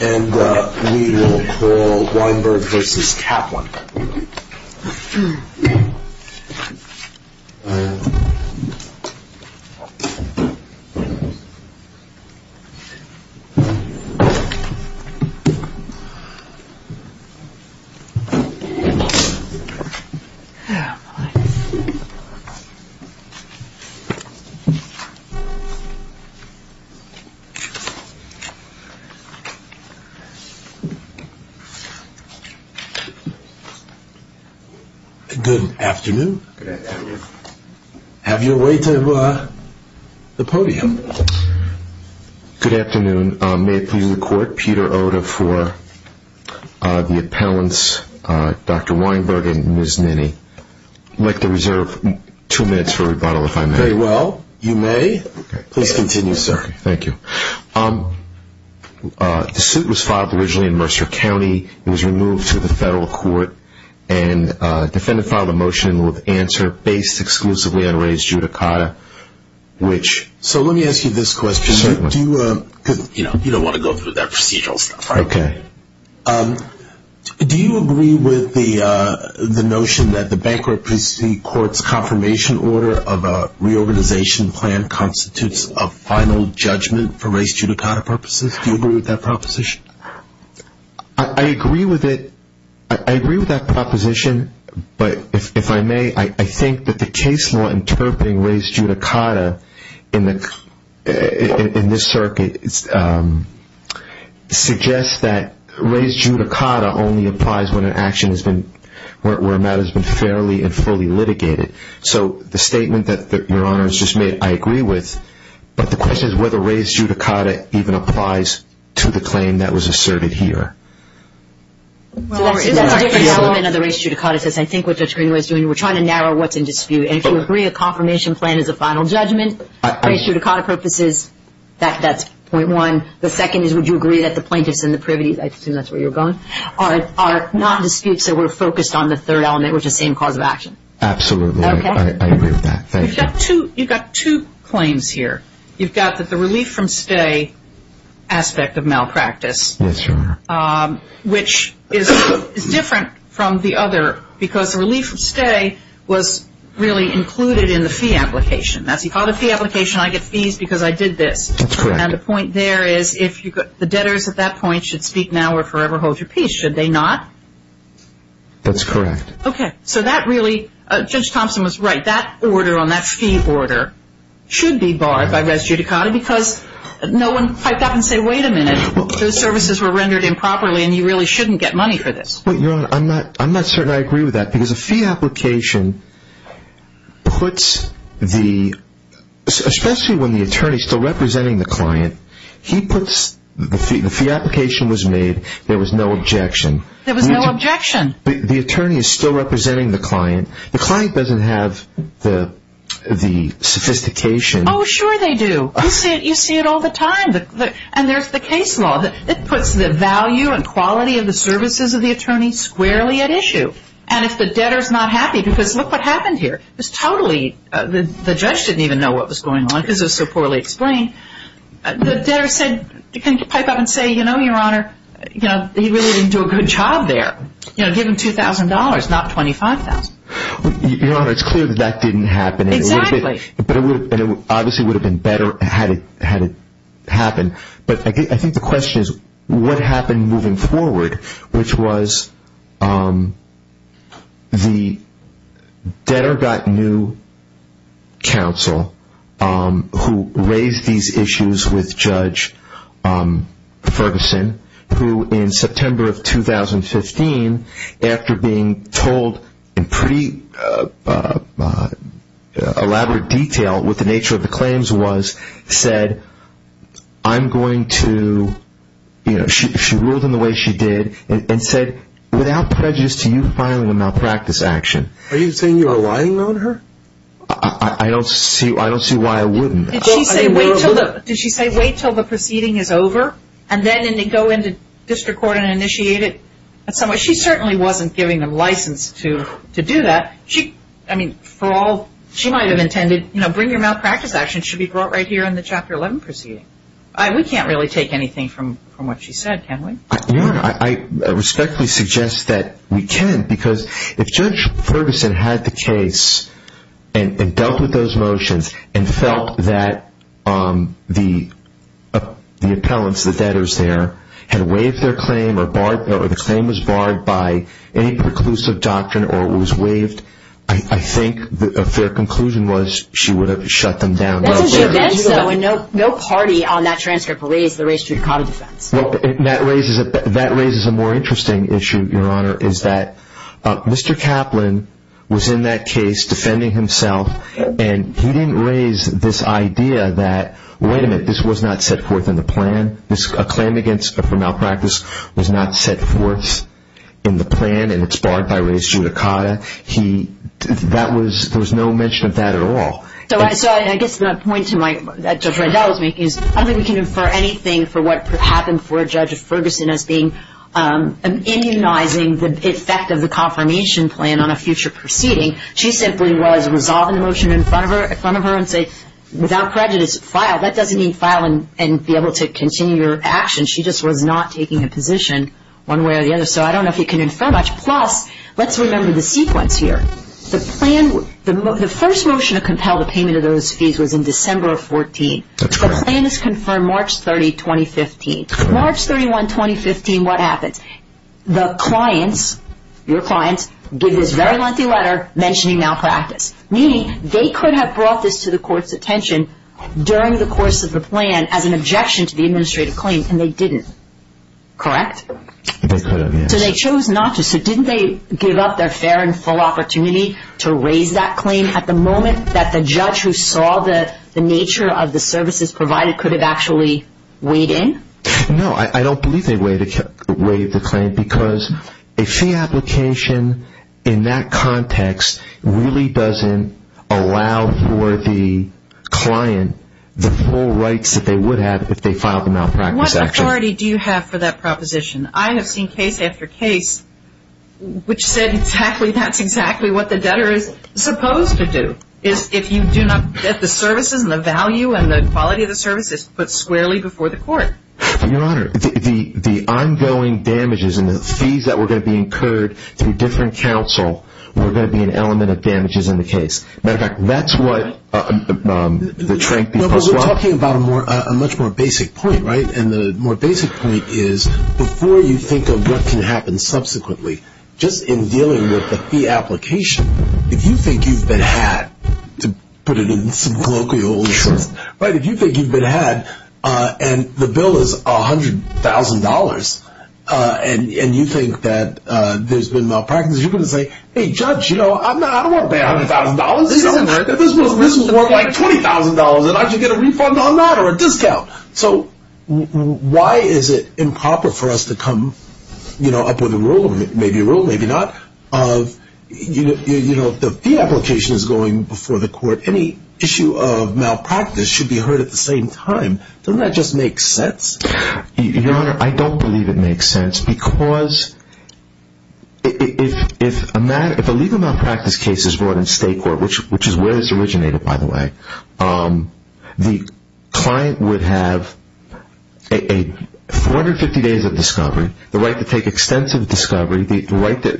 And we will call Weinberg v. Kaplan. Good afternoon. Have your way to the podium. Good afternoon. May it please the court, Peter Oda for the appellants, Dr. Weinberg and Ms. Ninny. I'd like to reserve two minutes for rebuttal, if I may. Very well. You may. Please continue, sir. Okay. Thank you. The suit was filed originally in Mercer County. It was removed to the federal court, and the defendant filed a motion with answer based exclusively on Ray's judicata, which So let me ask you this question. Certainly. You don't want to go through that procedural stuff, right? Okay. Do you agree with the notion that the bankruptcy court's confirmation order of a reorganization plan constitutes a final judgment for Ray's judicata purposes? Do you agree with that proposition? I agree with it. I agree with that proposition, but if I may, I think that the case law interpreting Ray's judicata in this circuit suggests that judicata only applies when an action has been, where a matter has been fairly and fully litigated. So the statement that Your Honor has just made, I agree with. But the question is whether Ray's judicata even applies to the claim that was asserted here. That's a different element of the Ray's judicata. I think what Judge Greenway is doing, we're trying to narrow what's in dispute. And if you agree a confirmation plan is a final judgment for Ray's judicata purposes, that's point one. The second is would you agree that the plaintiffs and the privities, I assume that's where you're going, are not disputes that were focused on the third element, which is the same cause of action. Absolutely. I agree with that. Thank you. You've got two claims here. You've got the relief from stay aspect of malpractice. Yes, Your Honor. Which is different from the other because the relief from stay was really included in the fee application. As you call the fee application, I get fees because I did this. That's correct. And the point there is the debtors at that point should speak now or forever hold your peace. Should they not? That's correct. Okay. So that really, Judge Thompson was right. That order on that fee order should be barred by Ray's judicata because no one piped up and said, wait a minute, those services were rendered improperly and you really shouldn't get money for this. Your Honor, I'm not certain I agree with that because a fee application puts the, especially when the attorney is still representing the client, he puts the fee application was made, there was no objection. There was no objection. The attorney is still representing the client. The client doesn't have the sophistication. Oh, sure they do. You see it all the time. And there's the case law. It puts the value and quality of the services of the attorney squarely at issue. And if the debtor is not happy because look what happened here. It's totally, the judge didn't even know what was going on because it was so poorly explained. The debtor said, can you pipe up and say, you know, Your Honor, he really didn't do a good job there. You know, give him $2,000, not $25,000. Your Honor, it's clear that that didn't happen. Exactly. But it obviously would have been better had it happened. But I think the question is what happened moving forward, which was the debtor got new counsel who raised these issues with Judge Ferguson, who in September of 2015, after being told in pretty elaborate detail what the nature of the claims was, said, I'm going to, you know, she ruled in the way she did and said, without prejudice to you filing a malpractice action. Are you saying you are lying on her? I don't see why I wouldn't. Did she say wait until the proceeding is over and then go into district court and initiate it? She certainly wasn't giving them license to do that. I mean, for all, she might have intended, you know, bring your malpractice action. And it should be brought right here in the Chapter 11 proceeding. We can't really take anything from what she said, can we? Your Honor, I respectfully suggest that we can, because if Judge Ferguson had the case and dealt with those motions and felt that the appellants, the debtors there, had waived their claim or the claim was barred by any preclusive doctrine or was waived, I think a fair conclusion was she would have shut them down. No party on that transcript raised the res judicata defense. That raises a more interesting issue, Your Honor, is that Mr. Kaplan was in that case defending himself and he didn't raise this idea that, wait a minute, this was not set forth in the plan. A claim for malpractice was not set forth in the plan and it's barred by res judicata. He, that was, there was no mention of that at all. So I guess my point to Judge Rendell is I don't think we can infer anything for what could happen for Judge Ferguson as being immunizing the effect of the confirmation plan on a future proceeding. She simply was resolving the motion in front of her and say, without prejudice, file. That doesn't mean file and be able to continue your action. She just was not taking a position one way or the other. So I don't know if you can infer much. Plus, let's remember the sequence here. The plan, the first motion to compel the payment of those fees was in December of 2014. The plan is confirmed March 30, 2015. March 31, 2015, what happens? The clients, your clients, give this very lengthy letter mentioning malpractice. Meaning they could have brought this to the court's attention during the course of the plan as an objection to the administrative claim and they didn't. Correct? They could have, yes. So they chose not to. So didn't they give up their fair and full opportunity to raise that claim at the moment that the judge who saw the nature of the services provided could have actually weighed in? No, I don't believe they weighed the claim because a fee application in that context really doesn't allow for the client the full rights that they would have if they filed a malpractice action. What priority do you have for that proposition? I have seen case after case which said exactly that's exactly what the debtor is supposed to do is if you do not get the services and the value and the quality of the services put squarely before the court. Your Honor, the ongoing damages and the fees that were going to be incurred through different counsel were going to be an element of damages in the case. Matter of fact, that's what the Trank v. Posteloff is talking about a much more basic point, right? And the more basic point is before you think of what can happen subsequently, just in dealing with the fee application, if you think you've been had, to put it in some colloquial sense, if you think you've been had and the bill is $100,000 and you think that there's been malpractice, you're going to say, hey judge, I don't want to pay $100,000. This was worth like $20,000 and I should get a refund on that or a discount. So why is it improper for us to come up with a rule, maybe a rule, maybe not, of the fee application is going before the court. Any issue of malpractice should be heard at the same time. Doesn't that just make sense? Your Honor, I don't believe it makes sense because if a legal malpractice case is brought in state court, which is where this originated, by the way, the client would have 450 days of discovery, the right to take extensive discovery, the right to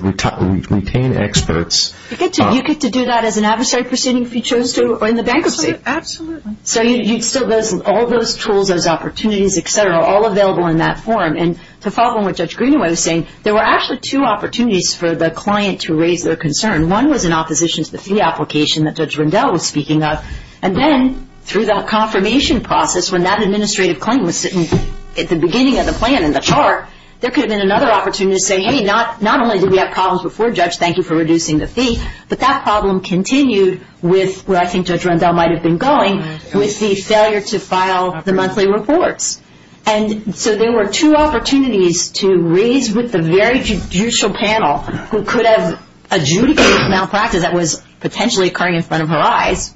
retain experts. You get to do that as an adversary proceeding if you chose to in the bankruptcy. Absolutely. So you'd still have all those tools, those opportunities, et cetera, all available in that form. And to follow on what Judge Greenaway was saying, there were actually two opportunities for the client to raise their concern. One was in opposition to the fee application that Judge Rendell was speaking of. And then through that confirmation process, when that administrative claim was sitting at the beginning of the plan in the chart, there could have been another opportunity to say, hey, not only did we have problems before, judge, thank you for reducing the fee, but that problem continued with where I think Judge Rendell might have been going, with the failure to file the monthly reports. And so there were two opportunities to raise with the very judicial panel who could have adjudicated malpractice that was potentially occurring in front of her eyes,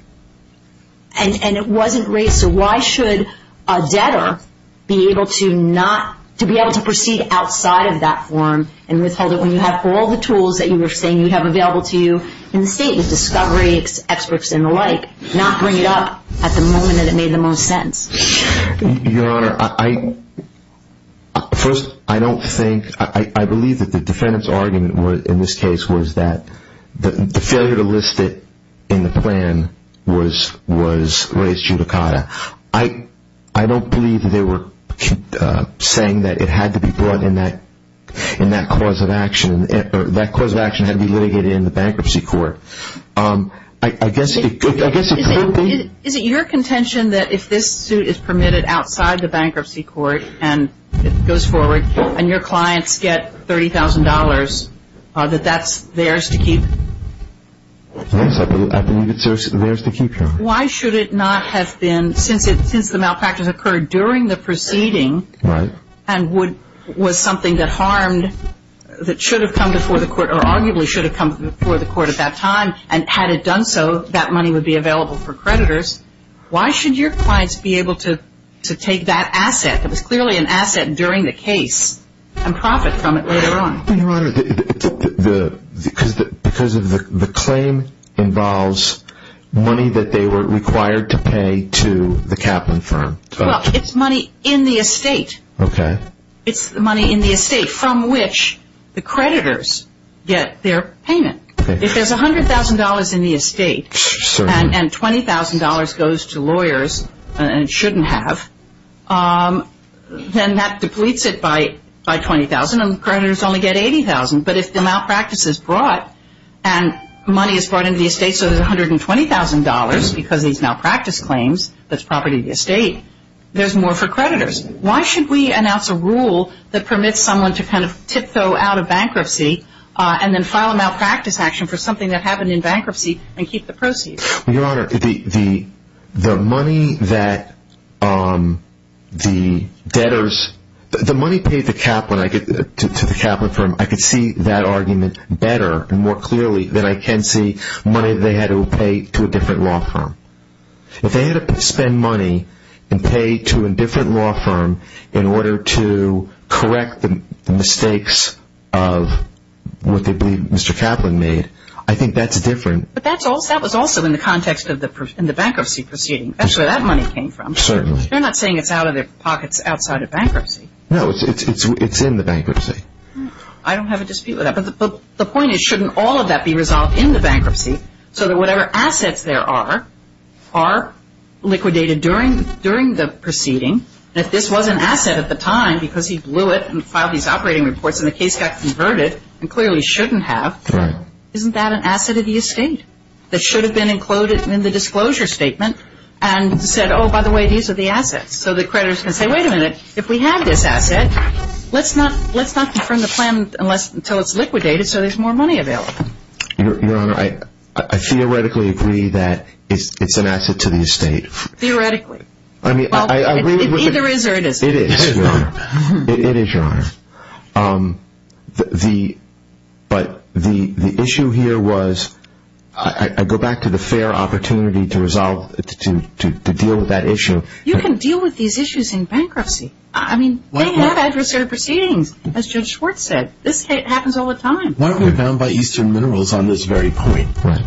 and it wasn't raised. So why should a debtor be able to proceed outside of that form and withhold it when you have all the tools that you were saying you'd have available to you in the state, with discovery experts and the like, not bring it up at the moment that it made the most sense? Your Honor, first, I don't think, I believe that the defendant's argument in this case was that the failure to list it in the plan was raised judicata. I don't believe that they were saying that it had to be brought in that cause of action, or that cause of action had to be litigated in the bankruptcy court. I guess it could be. Is it your contention that if this suit is permitted outside the bankruptcy court and it goes forward and your clients get $30,000, that that's theirs to keep? Yes, I believe it's theirs to keep, Your Honor. Why should it not have been, since the malpractice occurred during the proceeding, and was something that harmed, that should have come before the court, or arguably should have come before the court at that time, and had it done so, that money would be available for creditors. Why should your clients be able to take that asset that was clearly an asset during the case and profit from it later on? Your Honor, because the claim involves money that they were required to pay to the Kaplan firm. Well, it's money in the estate. Okay. It's the money in the estate from which the creditors get their payment. Okay. If there's $100,000 in the estate and $20,000 goes to lawyers and shouldn't have, then that depletes it by $20,000 and creditors only get $80,000. But if the malpractice is brought and money is brought into the estate, so there's $120,000 because of these malpractice claims, that's property of the estate, there's more for creditors. Why should we announce a rule that permits someone to kind of tiptoe out of bankruptcy and then file a malpractice action for something that happened in bankruptcy and keep the proceeds? Your Honor, the money that the debtors – the money paid to Kaplan, to the Kaplan firm, I could see that argument better and more clearly than I can see money they had to pay to a different law firm. If they had to spend money and pay to a different law firm in order to correct the mistakes of what they believe Mr. Kaplan made, I think that's different. But that was also in the context of the bankruptcy proceeding. That's where that money came from. Certainly. You're not saying it's out of their pockets outside of bankruptcy. No, it's in the bankruptcy. I don't have a dispute with that. But the point is, shouldn't all of that be resolved in the bankruptcy so that whatever assets there are are liquidated during the proceeding? If this was an asset at the time because he blew it and filed these operating reports and the case got converted and clearly shouldn't have, isn't that an asset of the estate that should have been included in the disclosure statement and said, oh, by the way, these are the assets so the creditors can say, wait a minute, if we have this asset, let's not confirm the plan until it's liquidated so there's more money available. Your Honor, I theoretically agree that it's an asset to the estate. Theoretically. It either is or it isn't. It is, Your Honor. It is, Your Honor. But the issue here was, I go back to the fair opportunity to deal with that issue. You can deal with these issues in bankruptcy. I mean, they have adversarial proceedings, as Judge Schwartz said. This happens all the time. Why aren't we bound by Eastern Minerals on this very point? Right.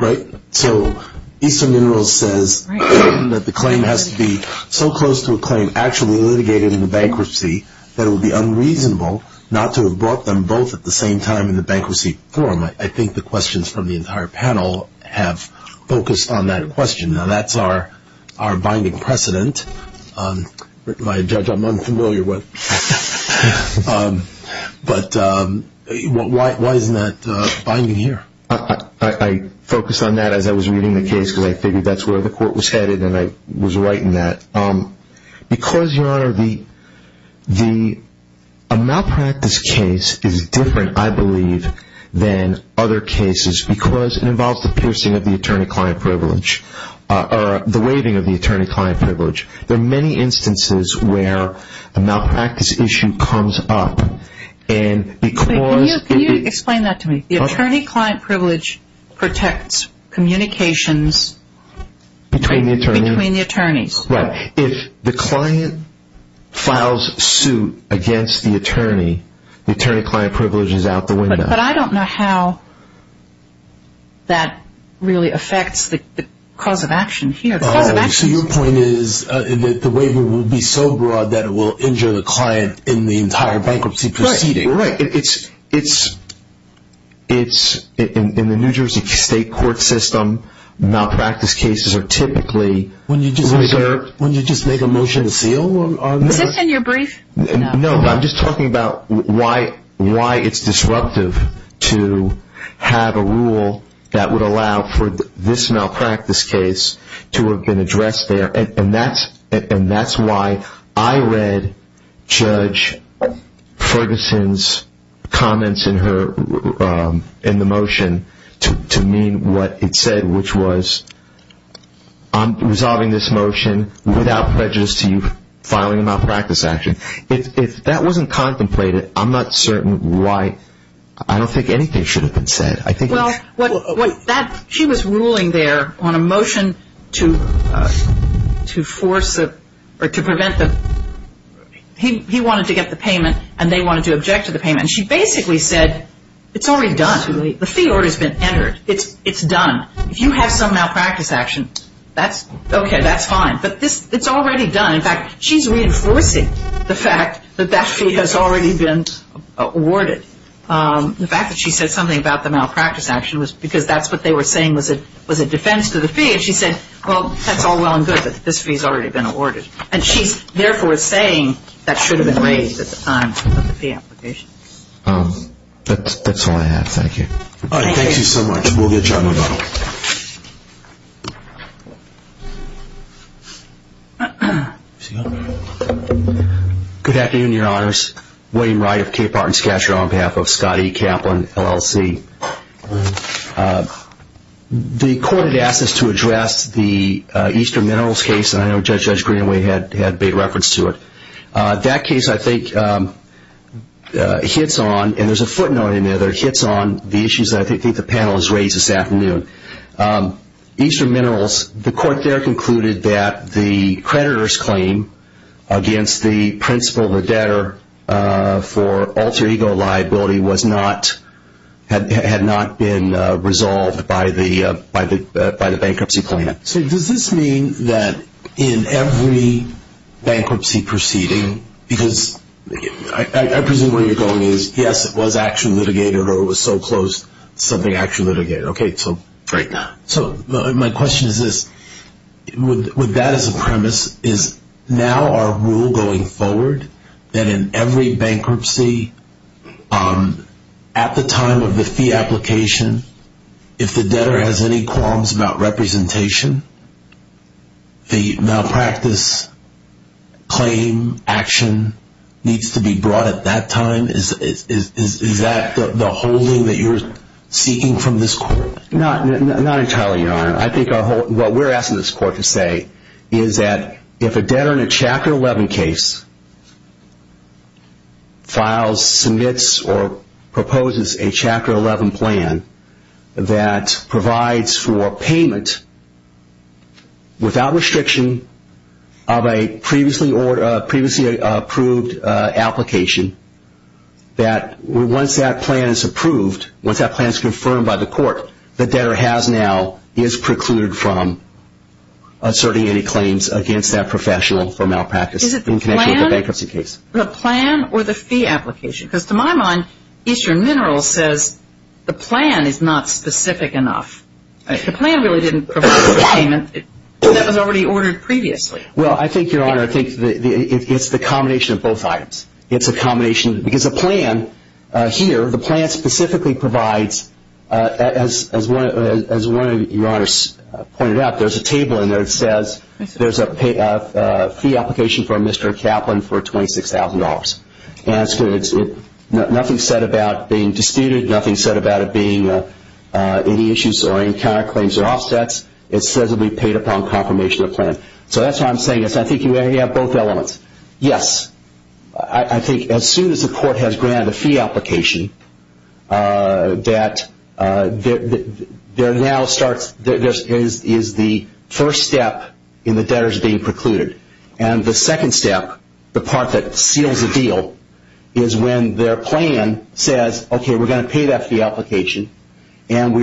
Right? So Eastern Minerals says that the claim has to be so close to a claim actually litigated in the bankruptcy that it would be unreasonable not to have brought them both at the same time in the bankruptcy form. I think the questions from the entire panel have focused on that question. Now, that's our binding precedent, which my judge I'm unfamiliar with. But why isn't that binding here? I focused on that as I was reading the case because I figured that's where the court was headed, and I was right in that. Because, Your Honor, a malpractice case is different, I believe, than other cases because it involves the piercing of the attorney-client privilege, or the waiving of the attorney-client privilege. There are many instances where a malpractice issue comes up. Can you explain that to me? The attorney-client privilege protects communications between the attorneys. Right. If the client files suit against the attorney, the attorney-client privilege is out the window. But I don't know how that really affects the cause of action here. So your point is the waiver will be so broad that it will injure the client in the entire bankruptcy proceeding. Right. In the New Jersey state court system, malpractice cases are typically reserved. Wouldn't you just make a motion to seal on that? Is this in your brief? No. I'm just talking about why it's disruptive to have a rule that would allow for this malpractice case to have been addressed there. And that's why I read Judge Ferguson's comments in the motion to mean what it said, which was, I'm resolving this motion without prejudice to you filing a malpractice action. If that wasn't contemplated, I'm not certain why. I don't think anything should have been said. She was ruling there on a motion to force or to prevent the – he wanted to get the payment and they wanted to object to the payment. She basically said it's already done. The fee order has been entered. It's done. If you have some malpractice action, okay, that's fine. But it's already done. In fact, she's reinforcing the fact that that fee has already been awarded. The fact that she said something about the malpractice action was because that's what they were saying was a defense to the fee. And she said, well, that's all well and good that this fee has already been awarded. And she's therefore saying that should have been raised at the time of the fee application. That's all I have. Thank you. Thank you so much. We'll get John McDonnell. Good afternoon, Your Honors. Wayne Wright of Capehart and Scatcher on behalf of Scott E. Kaplan, LLC. The court had asked us to address the Eastern Minerals case, and I know Judge Greenaway had made reference to it. That case, I think, hits on, and there's a footnote in there that hits on the issues that I think the panel has raised this afternoon. Eastern Minerals, the court there concluded that the creditor's claim against the principal of the debtor for alter ego liability had not been resolved by the bankruptcy plan. So does this mean that in every bankruptcy proceeding, because I presume where you're going is, yes, it was actually litigated or it was so close, something actually litigated. Okay. Right now. So my question is this. Would that as a premise is now our rule going forward that in every bankruptcy at the time of the fee application, if the debtor has any qualms about representation, the malpractice claim action needs to be brought at that time? Is that the holding that you're seeking from this court? I think what we're asking this court to say is that if a debtor in a Chapter 11 case files, submits, or proposes a Chapter 11 plan that provides for payment without restriction of a previously approved application, that once that plan is approved, once that plan is confirmed by the court, the debtor has now is precluded from asserting any claims against that professional for malpractice in connection with the bankruptcy case. Is it the plan or the fee application? Because to my mind, Eastern Minerals says the plan is not specific enough. The plan really didn't provide for payment. That was already ordered previously. Well, I think, Your Honor, it's the combination of both items. It's a combination. Because the plan here, the plan specifically provides, as one of Your Honors pointed out, there's a table in there that says there's a fee application from Mr. Kaplan for $26,000. And nothing's said about being disputed. Nothing's said about it being any issues or any counterclaims or offsets. It says it will be paid upon confirmation of the plan. So that's why I'm saying I think you have both elements. Yes, I think as soon as the court has granted the fee application, that there now starts is the first step in the debtors being precluded. And the second step, the part that seals the deal, is when their plan says, okay, we're going to pay that fee application and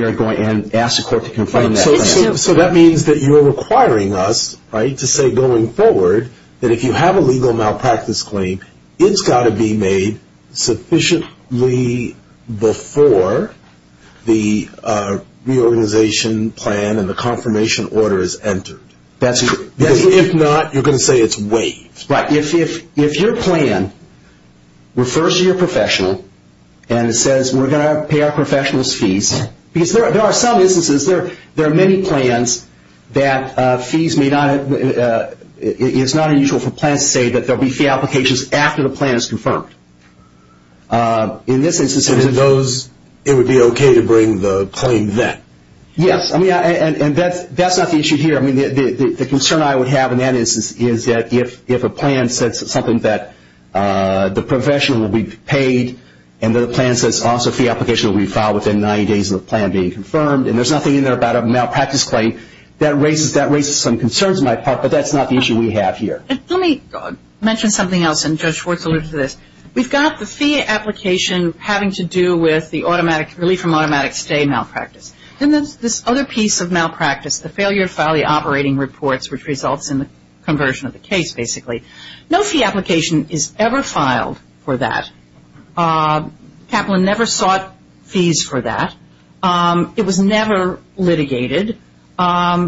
ask the court to confirm that. So that means that you're requiring us, right, to say going forward that if you have a legal malpractice claim, it's got to be made sufficiently before the reorganization plan and the confirmation order is entered. That's true. Because if not, you're going to say it's waived. Right. If your plan refers to your professional and it says we're going to pay our professional's fees, because there are some instances, there are many plans that it's not unusual for plans to say that there will be fee applications after the plan is confirmed. In this instance, it would be okay to bring the claim then. Yes, and that's not the issue here. The concern I would have in that instance is that if a plan says something that the professional will be paid and the plan says also fee application will be filed within 90 days of the plan being confirmed and there's nothing in there about a malpractice claim, that raises some concerns on my part, but that's not the issue we have here. Let me mention something else, and Judge Schwartz alluded to this. We've got the fee application having to do with the automatic, relief from automatic stay malpractice. Then there's this other piece of malpractice, the failure to file the operating reports, which results in the conversion of the case, basically. No fee application is ever filed for that. Kaplan never sought fees for that. It was never litigated, and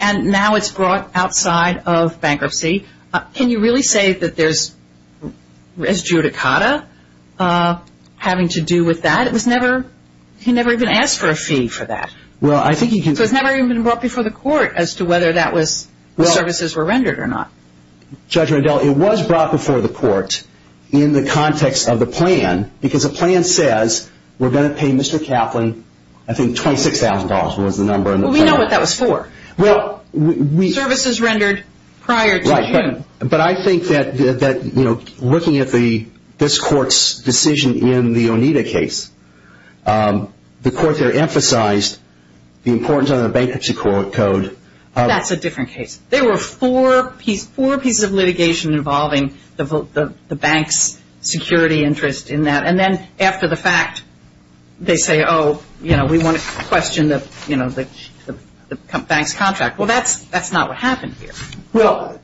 now it's brought outside of bankruptcy. Can you really say that there's res judicata having to do with that? He never even asked for a fee for that. It's never even been brought before the court as to whether the services were rendered or not. Judge Rendell, it was brought before the court in the context of the plan, because a plan says we're going to pay Mr. Kaplan, I think, $26,000 was the number. We know what that was for. Services rendered prior to June. But I think that looking at this court's decision in the Oneida case, the court there emphasized the importance of the bankruptcy code. That's a different case. There were four pieces of litigation involving the bank's security interest in that. And then after the fact, they say, oh, you know, we want to question the bank's contract. Well, that's not what happened here.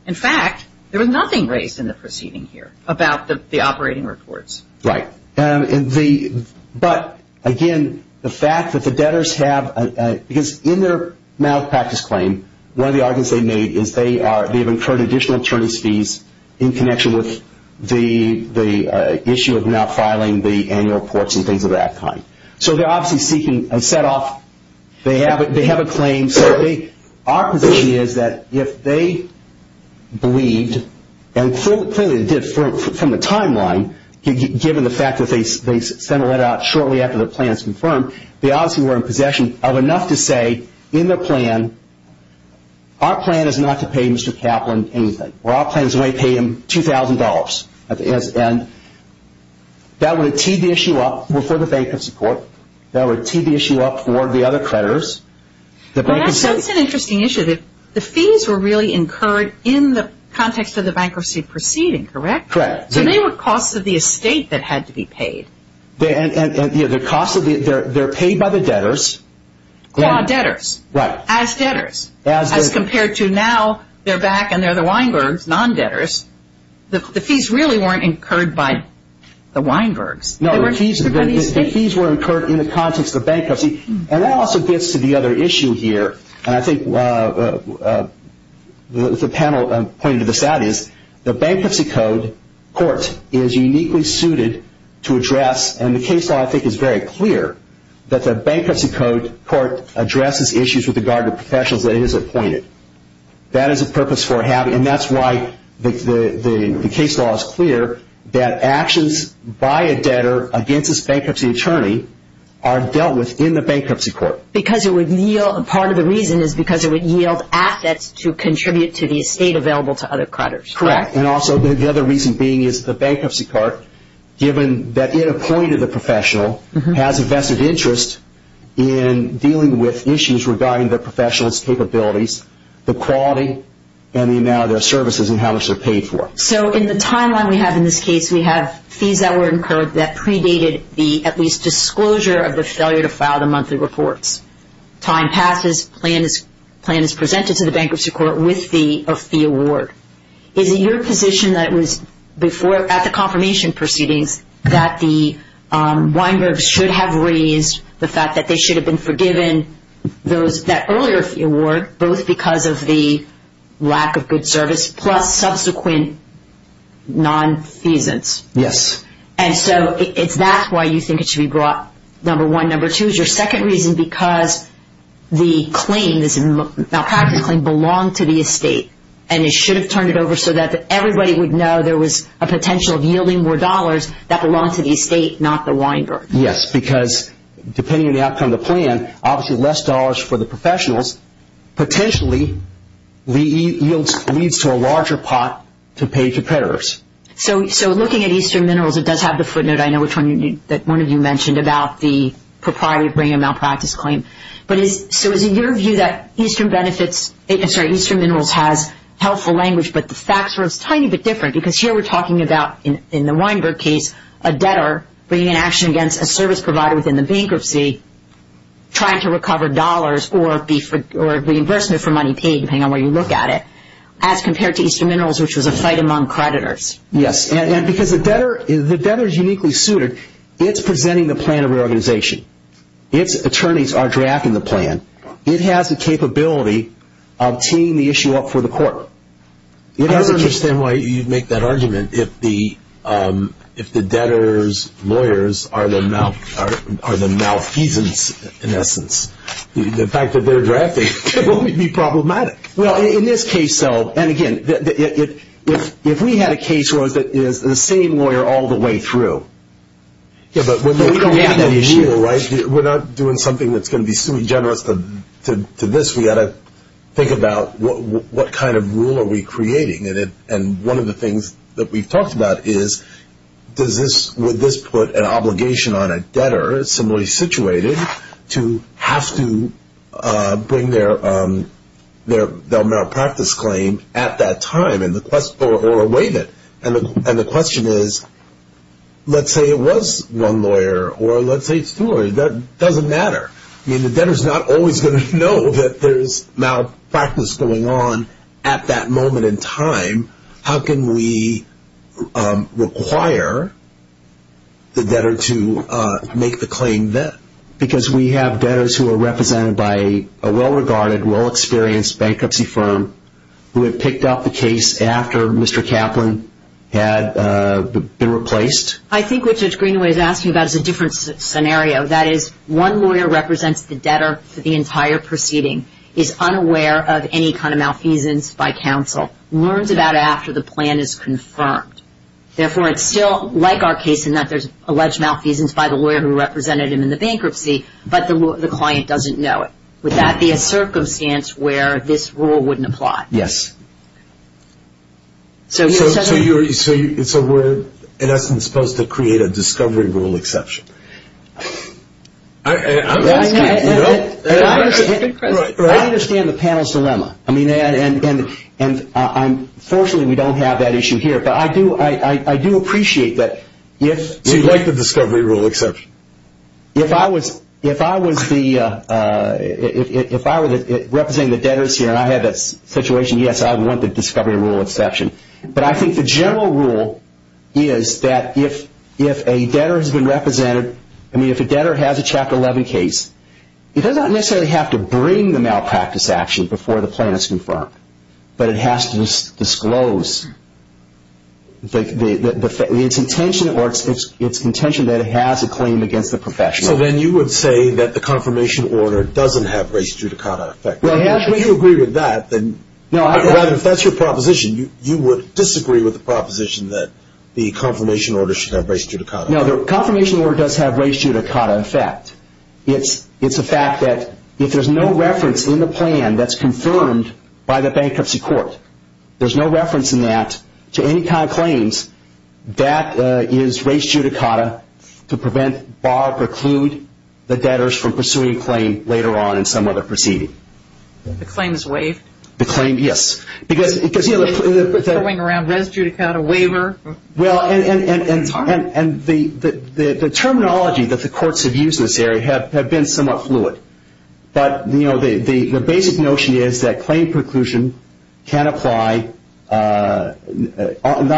In fact, there was nothing raised in the proceeding here about the operating reports. Right. But, again, the fact that the debtors have, because in their malpractice claim, one of the arguments they made is they've incurred additional attorney's fees in connection with the issue of now filing the annual reports and things of that kind. So they're obviously seeking a set off. They have a claim. Our position is that if they believed, and clearly they did from the timeline, given the fact that they sent a letter out shortly after the plan was confirmed, they obviously were in possession of enough to say in their plan, our plan is not to pay Mr. Kaplan anything, or our plan is only to pay him $2,000. And that would have teed the issue up for the bankruptcy court. That would tee the issue up for the other creditors. Well, that's an interesting issue. The fees were really incurred in the context of the bankruptcy proceeding, correct? Correct. So they were costs of the estate that had to be paid. They're paid by the debtors. Debtors. Right. As debtors. As compared to now they're back and they're the Weinbergs, non-debtors. The fees really weren't incurred by the Weinbergs. No, the fees were incurred in the context of the bankruptcy. And that also gets to the other issue here, and I think the panel pointed this out, is the bankruptcy court is uniquely suited to address, and the case law I think is very clear, that the bankruptcy court addresses issues with regard to professionals that it has appointed. That is a purpose for having, and that's why the case law is clear, that actions by a debtor against his bankruptcy attorney are dealt with in the bankruptcy court. Part of the reason is because it would yield assets to contribute to the estate available to other creditors. Correct. And also the other reason being is the bankruptcy court, given that it appointed the professional, has a vested interest in dealing with issues regarding the professional's capabilities, the quality, and the amount of their services and how much they're paid for. So in the timeline we have in this case, we have fees that were incurred that predated the, at least, disclosure of the failure to file the monthly reports. Time passes, plan is presented to the bankruptcy court with a fee award. Is it your position that it was before, at the confirmation proceedings, that the Weinbergs should have raised the fact that they should have been forgiven that earlier fee award, both because of the lack of good service plus subsequent nonfeasance? Yes. And so that's why you think it should be brought, number one. Number two is your second reason, because the claim, this malpractice claim, belonged to the estate and it should have turned it over so that everybody would know there was a potential of yielding more dollars that belonged to the estate, not the Weinbergs. Yes, because depending on the outcome of the plan, obviously less dollars for the professionals, potentially leads to a larger pot to pay to creditors. So looking at Eastern Minerals, it does have the footnote, I know, that one of you mentioned about the propriety of bringing a malpractice claim. So is it your view that Eastern Minerals has helpful language, but the facts are a tiny bit different? Because here we're talking about, in the Weinberg case, a debtor bringing an action against a service provider within the bankruptcy, trying to recover dollars or reimbursement for money paid, depending on where you look at it, as compared to Eastern Minerals, which was a fight among creditors. Yes, and because the debtor is uniquely suited, it's presenting the plan of reorganization. Its attorneys are drafting the plan. It has the capability of teeing the issue up for the court. I don't understand why you'd make that argument if the debtor's lawyers are the malfeasance, in essence. The fact that they're drafting it would be problematic. Well, in this case, so, and again, if we had a case that was the same lawyer all the way through. But we don't have that issue. We're not doing something that's going to be suing generous to this. We've got to think about what kind of rule are we creating. And one of the things that we've talked about is, would this put an obligation on a debtor, similarly situated, to have to bring their malpractice claim at that time or waive it? And the question is, let's say it was one lawyer or let's say it's two lawyers. That doesn't matter. I mean, the debtor's not always going to know that there's malpractice going on at that moment in time. How can we require the debtor to make the claim then? Because we have debtors who are represented by a well-regarded, well-experienced bankruptcy firm who had picked up the case after Mr. Kaplan had been replaced. I think what Judge Greenaway is asking about is a different scenario. That is, one lawyer represents the debtor for the entire proceeding, is unaware of any kind of malfeasance by counsel, learns about it after the plan is confirmed. Therefore, it's still like our case in that there's alleged malfeasance by the lawyer who represented him in the bankruptcy, but the client doesn't know it. Would that be a circumstance where this rule wouldn't apply? Yes. So we're, in essence, supposed to create a discovery rule exception. I understand the panel's dilemma, and fortunately we don't have that issue here, but I do appreciate that if... So you'd like the discovery rule exception? If I was representing the debtors here and I had that situation, yes, I would want the discovery rule exception. But I think the general rule is that if a debtor has been represented, I mean, if a debtor has a Chapter 11 case, it does not necessarily have to bring the malpractice action before the plan is confirmed, but it has to disclose its intention or its contention that it has a claim against the professional. So then you would say that the confirmation order doesn't have res judicata effect. If you agree with that, then... No, I... Rather, if that's your proposition, you would disagree with the proposition that the confirmation order should have res judicata effect. No, the confirmation order does have res judicata effect. It's a fact that if there's no reference in the plan that's confirmed by the bankruptcy court, there's no reference in that to any kind of claims, that is res judicata to prevent, bar, preclude, the debtors from pursuing a claim later on in some other proceeding. The claim is waived? The claim, yes. Because, you know... Throwing around res judicata, waiver... Well, and the terminology that the courts have used in this area have been somewhat fluid. But, you know, the basic notion is that claim preclusion can apply not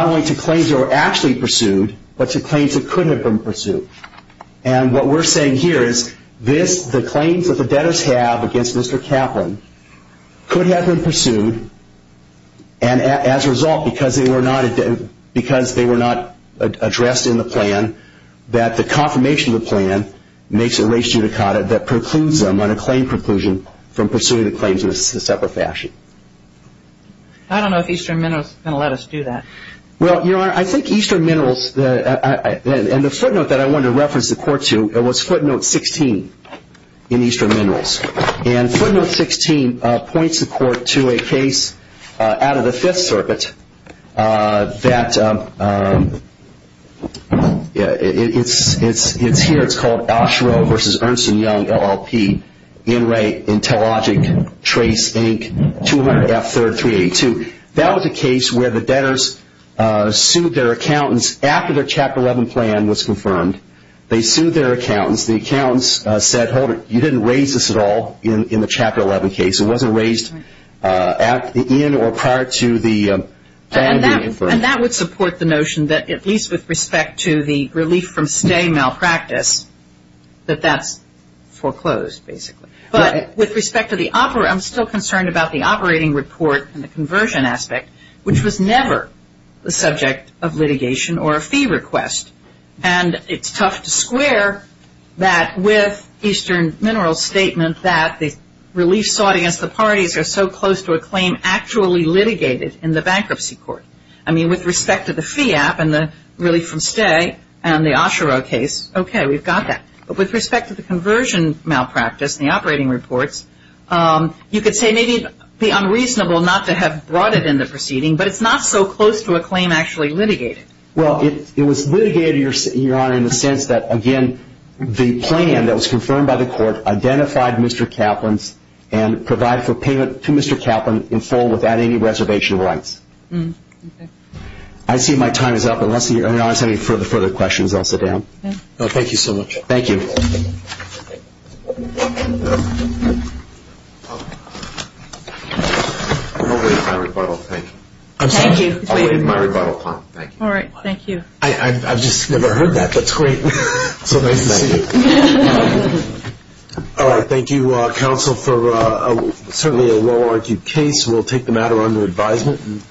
only to claims that were actually pursued, but to claims that couldn't have been pursued. And what we're saying here is the claims that the debtors have against Mr. Kaplan could have been pursued, and as a result, because they were not addressed in the plan, that the confirmation of the plan makes a res judicata that precludes them on a claim preclusion from pursuing the claims in a separate fashion. I don't know if Eastern Minerals is going to let us do that. Well, Your Honor, I think Eastern Minerals, and the footnote that I wanted to reference the court to, it was footnote 16 in Eastern Minerals. And footnote 16 points the court to a case out of the Fifth Circuit that it's here, it's called Oshereau v. Ernst & Young, LLP, Enright, Intellogic, Trace, Inc., 200F3382. That was a case where the debtors sued their accountants after their Chapter 11 plan was confirmed. They sued their accountants. The accountants said, hold it, you didn't raise this at all in the Chapter 11 case. It wasn't raised at the end or prior to the plan being confirmed. And that would support the notion that, at least with respect to the relief from stay malpractice, that that's foreclosed, basically. But with respect to the operant, I'm still concerned about the operating report and the conversion aspect, which was never the subject of litigation or a fee request. And it's tough to square that with Eastern Minerals' statement that the relief sought against the parties are so close to a claim actually litigated in the bankruptcy court. I mean, with respect to the fee app and the relief from stay and the Oshereau case, okay, we've got that. But with respect to the conversion malpractice and the operating reports, you could say maybe it would be unreasonable not to have brought it in the proceeding, but it's not so close to a claim actually litigated. Well, it was litigated, Your Honor, in the sense that, again, the plan that was confirmed by the court identified Mr. Kaplan's and provided for payment to Mr. Kaplan in full without any reservation rights. Okay. I see my time is up. Unless, Your Honor, you have any further questions, I'll sit down. Thank you so much. Thank you. I'll wait until my rebuttal. Thank you. Thank you. I've just never heard that. That's great. So nice to see you. All right. Thank you, counsel, for certainly a well-argued case. We'll take the matter under advisement.